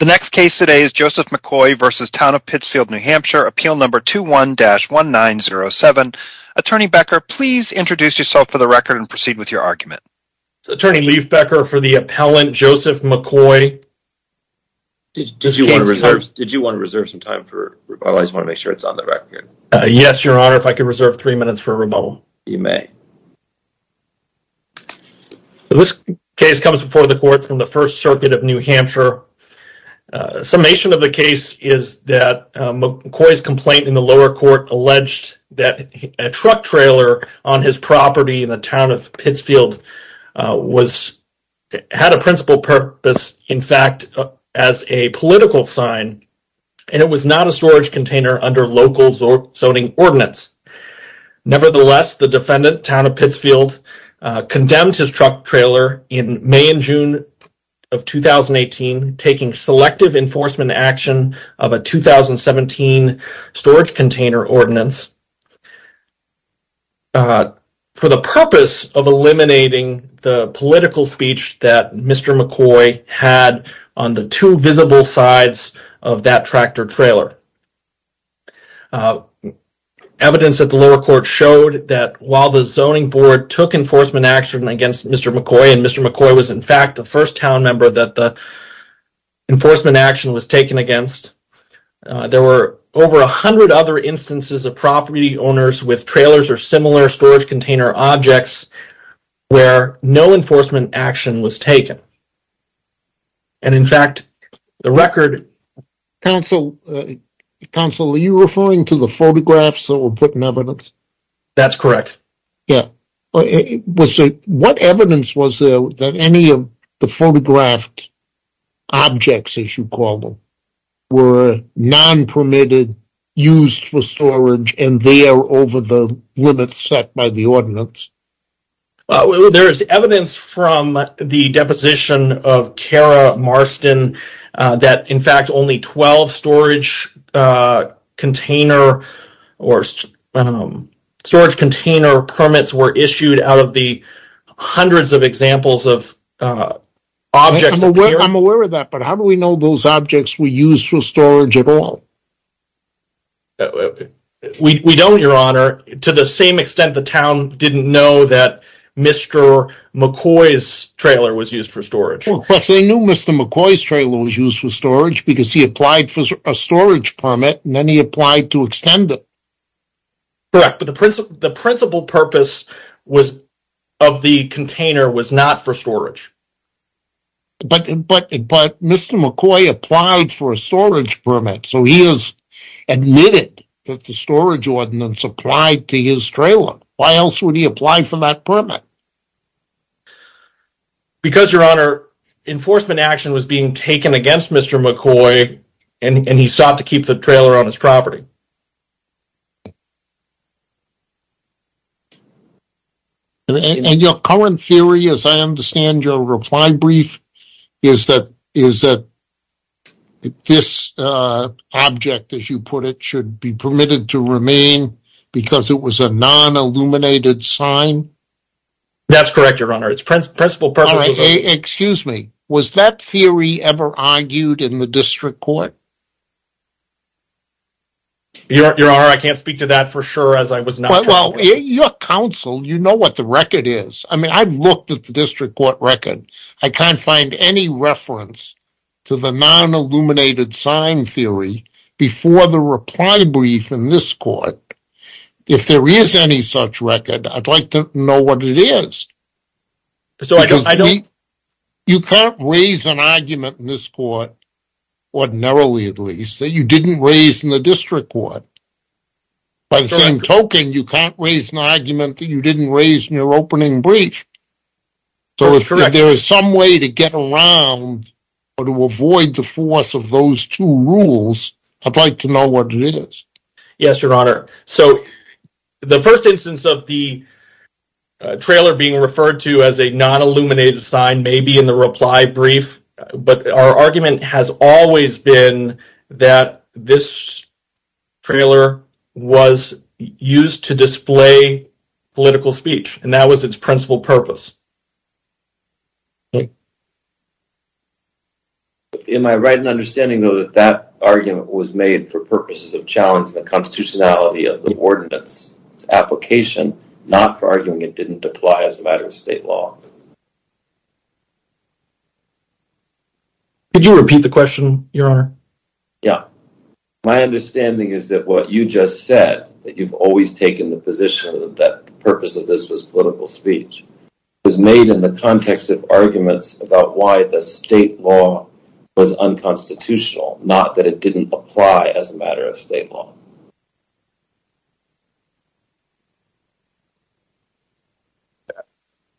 The next case today is Joseph McCoy v. Town of Pittsfield, NH, appeal number 21-1907. Attorney Becker, please introduce yourself for the record and proceed with your argument. Attorney Lief Becker for the appellant, Joseph McCoy. Did you want to reserve some time for rebuttal? I just want to make sure it's on the record. Yes, your honor, if I could reserve three minutes for rebuttal. You may. This case comes before the court from the First Circuit of New Hampshire. Summation of the case is that McCoy's complaint in the lower court alleged that a truck trailer on his property in the town of Pittsfield had a principal purpose, in fact, as a political sign and it was not a storage container under local zoning ordinance. Nevertheless, the defendant, Town of Pittsfield, condemned his truck trailer in May and June of 2018, taking selective enforcement action of a 2017 storage container ordinance for the purpose of eliminating the political speech that Mr. McCoy had on the two visible sides of that tractor trailer. Evidence at the lower court showed that while the zoning board took enforcement action against Mr. McCoy, and Mr. McCoy was in fact the first town member that the enforcement action was taken against, there were over a hundred other instances of property owners with trailers or similar storage container objects where no enforcement action was taken. And, in fact, the record... Counsel, are you referring to the photographs that were put in evidence? That's correct. Yeah, what evidence was there that any of the photographed objects, as you call them, were non-permitted, used for storage, and they are over the limits set by the ordinance? Well, there is evidence from the deposition of Kara Marston that, in fact, only 12 storage container or storage container permits were issued out of the hundreds of examples of objects. I'm aware of that, but how do we know those objects were used for storage at all? Well, we don't, Your Honor, to the same extent the town didn't know that Mr. McCoy's trailer was used for storage. Plus, they knew Mr. McCoy's trailer was used for storage because he applied for a storage permit, and then he applied to extend it. Correct, but the principal purpose of the container was not for storage. But Mr. McCoy applied for a storage permit, so he has admitted that the storage ordinance applied to his trailer. Why else would he apply for that permit? Because, Your Honor, enforcement action was being taken against Mr. McCoy, and he sought to keep the trailer on his property. And your current theory, as I understand your reply brief, is that is that this object, as you put it, should be permitted to remain because it was a non-illuminated sign? That's correct, Your Honor. It's principal purpose. All right, excuse me. Was that theory ever argued in the district court? Your Honor, I can't speak to that for sure, as I was not- Well, your counsel, you know what the record is. I mean, I've looked at the district court record. I can't find any reference to the non-illuminated sign theory before the reply brief in this court. If there is any such record, I'd like to know what it is. So, you can't raise an argument in this court, ordinarily at least, that you didn't raise in the district court. By the same token, you can't raise an argument that you didn't raise in your opening brief. So, if there is some way to get around or to avoid the force of those two rules, I'd like to know what it is. Yes, Your Honor. So, the first instance of the trailer being referred to as a non-illuminated sign may be in the reply brief, but our argument has always been that this trailer was used to display political speech, and that was its principal purpose. Am I right in understanding, though, that that argument was made for purposes of challenge the constitutionality of the ordinance, its application, not for arguing it didn't apply as a matter of state law? Could you repeat the question, Your Honor? Yeah. My understanding is that what you just said, that you've always taken the position that the purpose of this was political speech, was made in the context of arguments about why the state law was unconstitutional, not that it didn't apply as a matter of state law.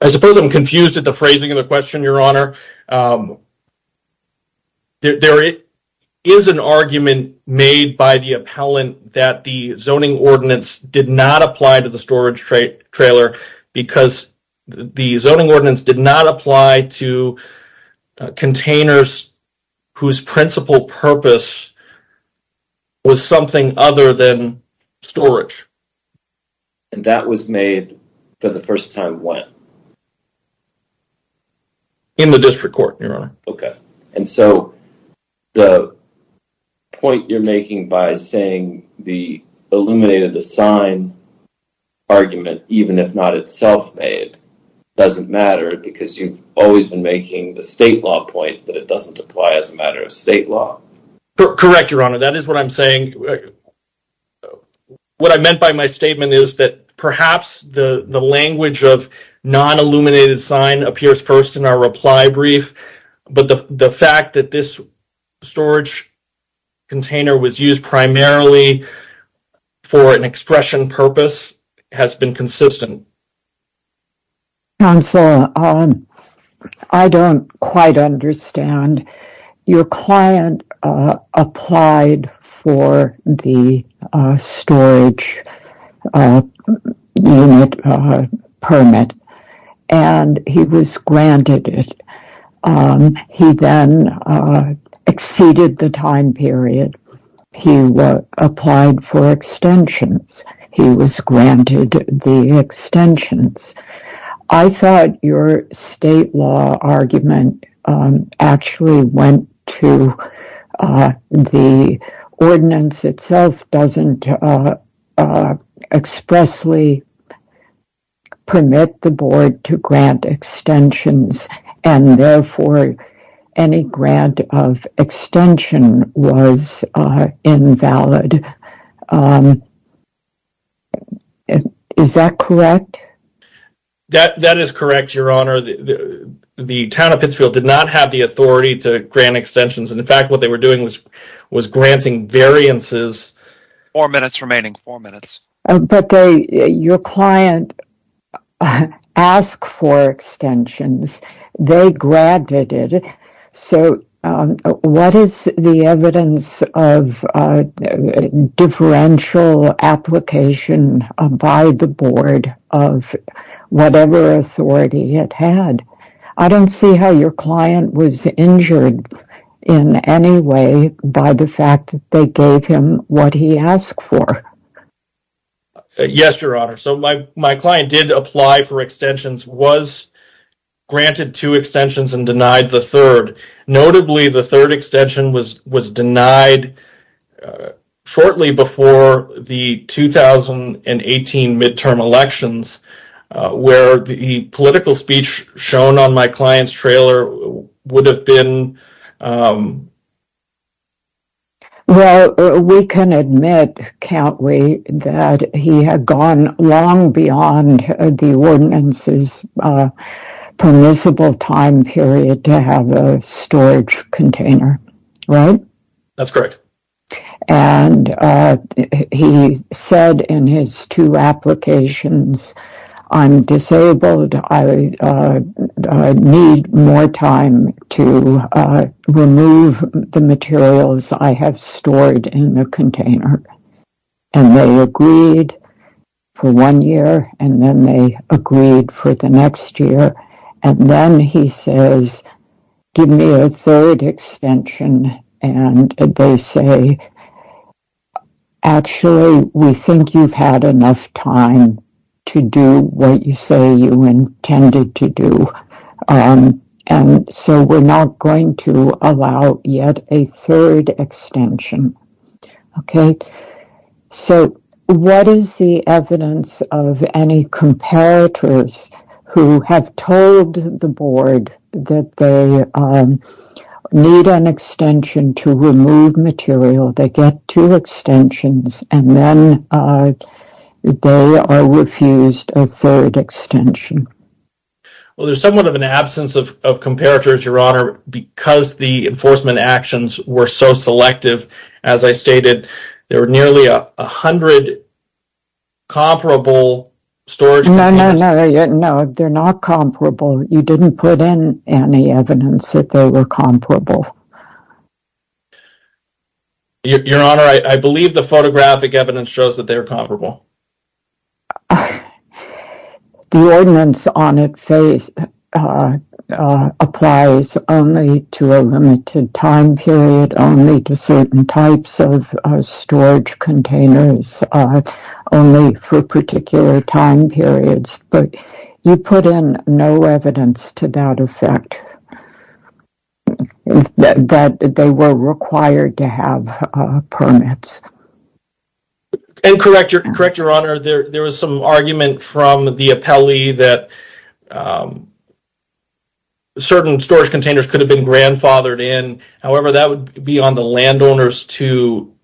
I suppose I'm confused at the phrasing of the question, Your Honor. There is an argument made by the appellant that the zoning ordinance did not apply to the storage trailer because the zoning ordinance did not apply to containers whose principal purpose was something other than storage. And that was made for the first time when? In the district court, Your Honor. Okay. And so the point you're making by saying the illuminated sign argument, even if not itself made, doesn't matter because you've always been making the state law point that doesn't apply as a matter of state law. Correct, Your Honor. That is what I'm saying. What I meant by my statement is that perhaps the language of non-illuminated sign appears first in our reply brief, but the fact that this storage container was used primarily for an expression purpose has been consistent. Counselor, I don't quite understand. Your client applied for the storage unit permit and he was granted it. He then exceeded the time period. He applied for extensions. He was granted the extensions. I thought your state law argument actually went to the ordinance itself doesn't expressly permit the board to grant extensions and therefore any grant of extension was invalid. Is that correct? That is correct, Your Honor. The town of Pittsfield did not have the authority to grant extensions. And in fact, what they were doing was granting variances. Four minutes remaining, four minutes. But your client asked for extensions. They granted it. So what is the evidence of a differential application by the board of whatever authority it had? I don't see how your client was injured in any way by the fact that they gave him what he asked for. Yes, Your Honor. My client did apply for extensions, was granted two extensions and denied the third. Notably, the third extension was denied shortly before the 2018 midterm elections where the political speech shown on my client's trailer would have been. Well, we can admit, can't we, that he had gone long beyond the ordinance's permissible time period to have a storage container, right? That's correct. And he said in his two applications, I'm disabled. I need more time to remove the materials I have stored in the container. And they agreed for one year. And then they agreed for the next year. And then he says, give me a third extension. And they say, actually, we think you've had enough time to do what you say you intended to do. And so we're not going to allow yet a third extension. Okay, so what is the evidence of any comparators who have told the board that they need an extension to remove material? They get two extensions and then they are refused a third extension. Well, there's somewhat of an absence of comparators, Your Honor, because the enforcement actions were so selective. As I stated, there were nearly a hundred comparable storage containers. No, no, no, no. They're not comparable. You didn't put in any evidence that they were comparable. Your Honor, I believe the photographic evidence shows that they're comparable. The ordinance on it applies only to a limited time period, only to certain types of storage containers, only for particular time periods. But you put in no evidence to that effect that they were required to have permits. And correct, Your Honor, there was some argument from the appellee that certain storage containers could have been grandfathered in. However, that would be on the landowners to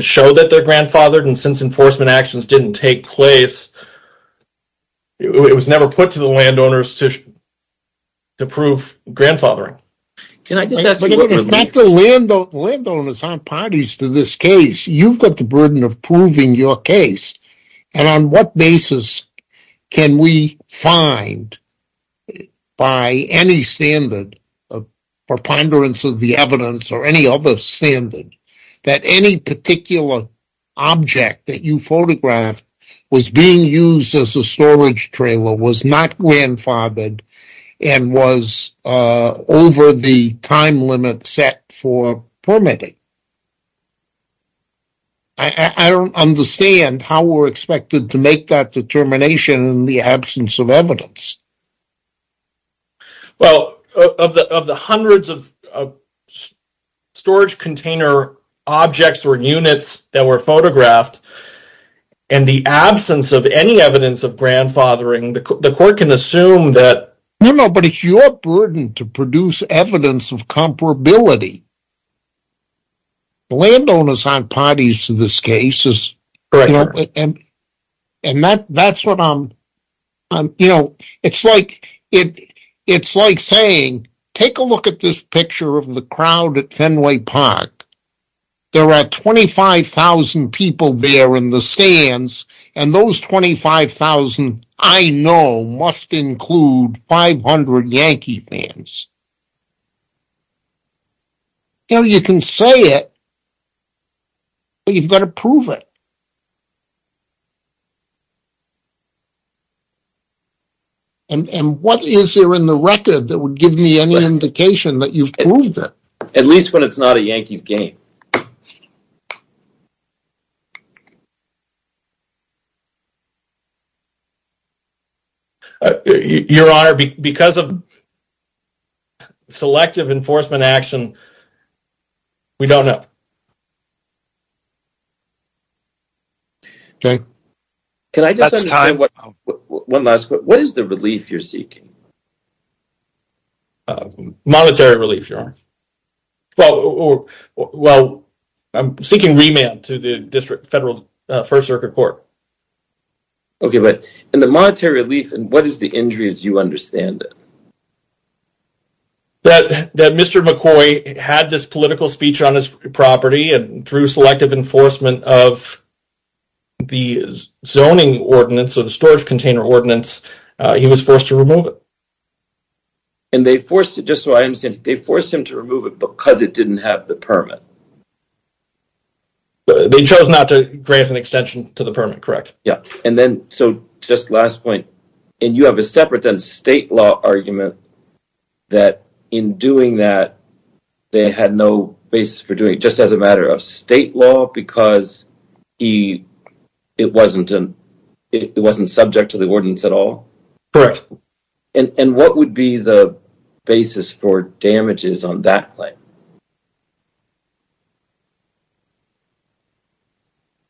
show that they're grandfathered. Since enforcement actions didn't take place, it was never put to the landowners to prove grandfathering. Landowners aren't parties to this case. You've got the burden of proving your case. And on what basis can we find, by any standard, for ponderance of the evidence or any other standard, that any particular object that you photographed was being used as a storage trailer, was not grandfathered, and was over the time limit set for permitting? I don't understand how we're expected to make that determination in the absence of evidence. Well, of the hundreds of storage container objects or units that were photographed, and the absence of any evidence of grandfathering, the court can assume that... No, no, but it's your burden to produce evidence of comparability. Landowners aren't parties to this case. Correct, Your Honor. And that's what I'm, you know, it's like saying, take a look at this picture of the crowd at Fenway Park. There are 25,000 people there in the stands, and those 25,000, I know, must include 500 Yankee fans. You know, you can say it, but you've got to prove it. And what is there in the record that would give me any indication that you've proved it? At least when it's not a Yankees game. Your Honor, because of selective enforcement action, we don't know. Okay, that's time. Can I just ask one last question? What is the relief you're seeking? Monetary relief, Your Honor. Well, I'm seeking remand to the District Federal First Circuit Court. Okay, but in the monetary relief, what is the injury as you understand it? That Mr. McCoy had this political speech on his property, and through selective enforcement of the zoning ordinance, or the storage container ordinance, he was forced to remove it. And they forced it, just so I understand, they forced him to remove it because it didn't have the permit. They chose not to grant an extension to the permit, correct? Yeah, and then, so just last point, and you have a separate then state law argument, that in doing that, they had no basis for doing it, just as a matter of state law, because it wasn't subject to the ordinance at all? Correct. And what would be the basis for damages on that claim?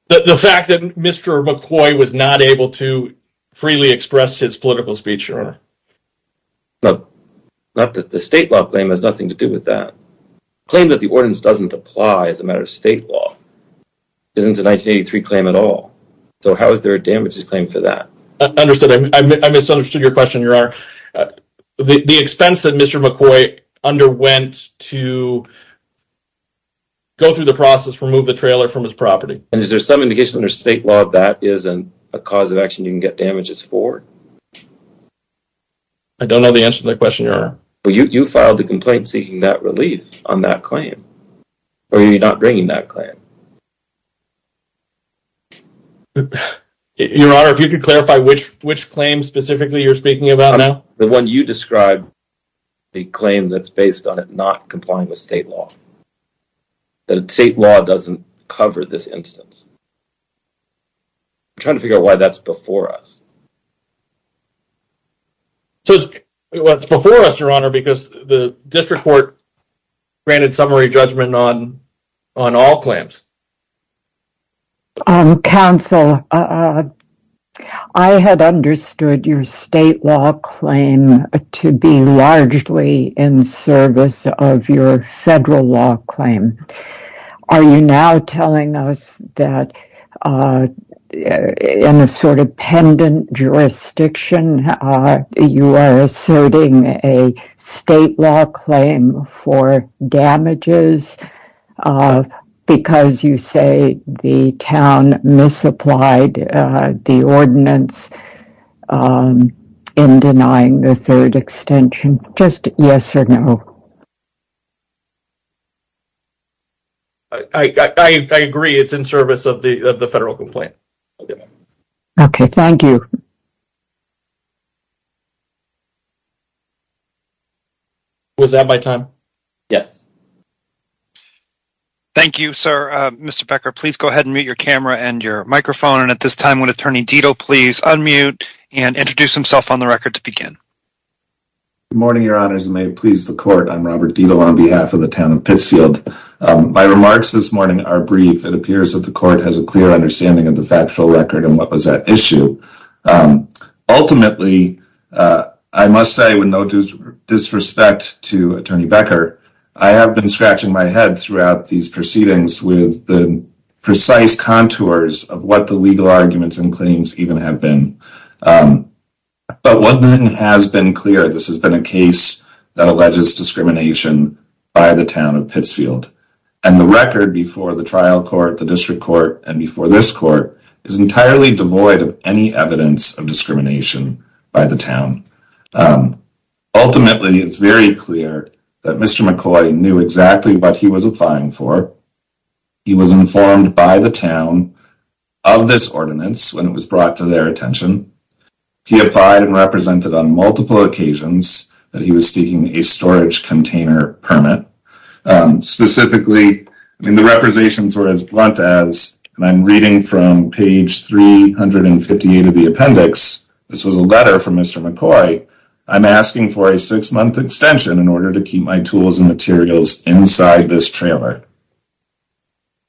The fact that Mr. McCoy was not able to freely express his political speech, Your Honor. Not that the state law claim has nothing to do with that. Claim that the ordinance doesn't apply as a matter of state law isn't a 1983 claim at all. So how is there a damages claim for that? Understood. I misunderstood your question, Your Honor. The expense that Mr. McCoy underwent to go through the process, remove the trailer from his property. And is there some indication under state law that is a cause of action you can get damages for? I don't know the answer to that question, Your Honor. Well, you filed a complaint seeking that relief on that claim. Or are you not bringing that claim? Your Honor, if you could clarify which which claim specifically you're speaking about now. The one you described, the claim that's based on it not complying with state law. The state law doesn't cover this instance. I'm trying to figure out why that's before us. So it's what's before us, Your Honor, because the district court granted summary judgment on on all claims. Counsel, I had understood your state law claim to be largely in service of your federal law claim. Are you now telling us that in a sort of pendant jurisdiction, you are asserting a state law claim for damages because you say the town misapplied the ordinance in denying the third extension? Just yes or no. I agree it's in service of the federal complaint. OK, thank you. Was that my time? Yes. Thank you, sir. Mr. Becker, please go ahead and mute your camera and your microphone. And at this time, would Attorney Dito please unmute and introduce himself on the record to begin? Good morning, Your Honors, and may it please the court. I'm Robert Dito on behalf of the town of Pittsfield. My remarks this morning are brief. It appears that the court has a clear understanding of the factual record and what was at issue. Ultimately, I must say, with no disrespect to Attorney Becker, I have been scratching my head throughout these proceedings with the precise contours of what the legal arguments and claims even have been. But one thing has been clear. This has been a case that alleges discrimination by the town of Pittsfield. And the record before the trial court, the district court, and before this court is entirely devoid of any evidence of discrimination by the town. Ultimately, it's very clear that Mr. McCoy knew exactly what he was applying for. He was informed by the town of this ordinance when it was brought to their attention. He applied and represented on multiple occasions that he was seeking a storage container permit, specifically, the representations were as blunt as, and I'm reading from page 358 of the appendix, this was a letter from Mr. McCoy, I'm asking for a six-month extension in order to keep my tools and materials inside this trailer.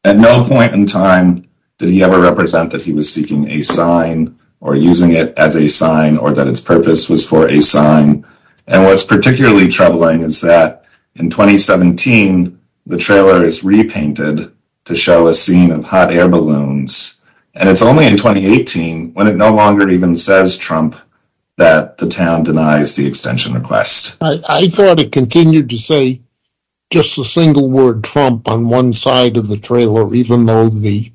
At no point in time did he ever represent that he was seeking a sign, or using it as a sign, or that its purpose was for a sign. And what's particularly troubling is that in 2017, the trailer is repainted to show a scene of hot air balloons. And it's only in 2018, when it no longer even says Trump, that the town denies the extension request. I thought it continued to say just a single word Trump on one side of the trailer, even though the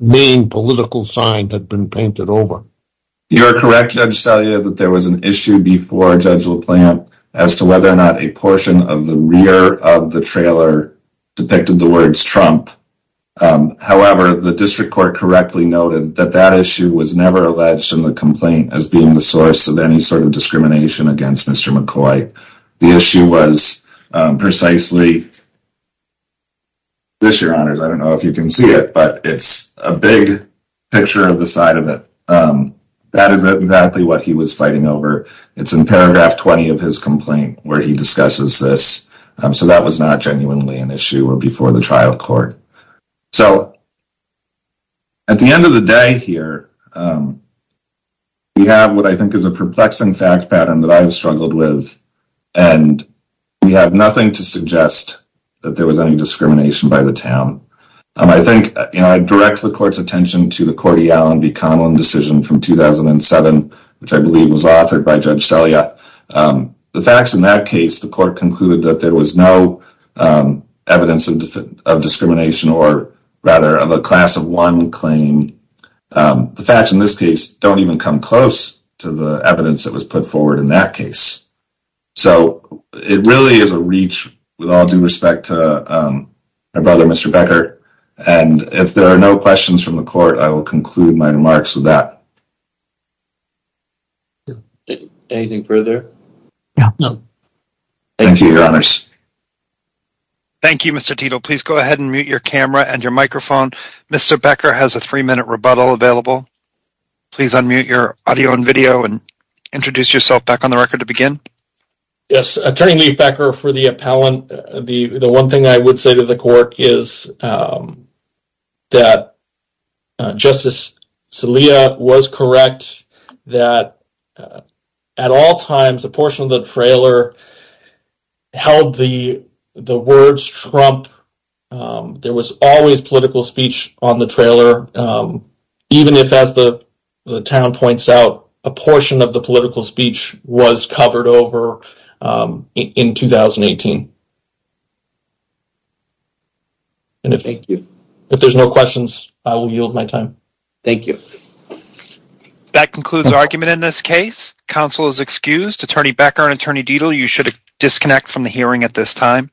main political sign had been painted over. You're correct, Judge Salia, that there was an issue before Judge LaPlante as to whether or not a portion of the rear of the trailer depicted the words Trump. However, the district court correctly noted that that issue was never alleged in the complaint as being the source of any sort of discrimination against Mr. McCoy. The issue was precisely... This, your honors, I don't know if you can see it, but it's a big picture of the side of it. That is exactly what he was fighting over. It's in paragraph 20 of his complaint where he discusses this. So that was not genuinely an issue or before the trial court. So at the end of the day here, we have what I think is a perplexing fact pattern that I've struggled with. And we have nothing to suggest that there was any discrimination by the town. I think, you know, I direct the court's attention to the Cordial and McConnell decision from 2007, which I believe was authored by Judge Salia. The facts in that case, the court concluded that there was no evidence of discrimination or rather of a class of one claim. The facts in this case don't even come close to the evidence that was put forward in that case. So it really is a reach with all due respect to my brother, Mr. Becker. And if there are no questions from the court, I will conclude my remarks with that. Anything further? Thank you, your honors. Thank you, Mr. Tito. Please go ahead and mute your camera and your microphone. Mr. Becker has a three-minute rebuttal available. Please unmute your audio and video and introduce yourself back on the record to begin. Yes, Attorney Lee Becker for the appellant. The one thing I would say to the court is that Justice Salia was correct that at all times, a portion of the trailer held the words Trump. There was always political speech on the trailer. Even if, as the town points out, a portion of the political speech was covered over in 2018. Thank you. If there's no questions, I will yield my time. Thank you. That concludes argument in this case. Counsel is excused. Attorney Becker and Attorney Dietl, you should disconnect from the hearing at this time.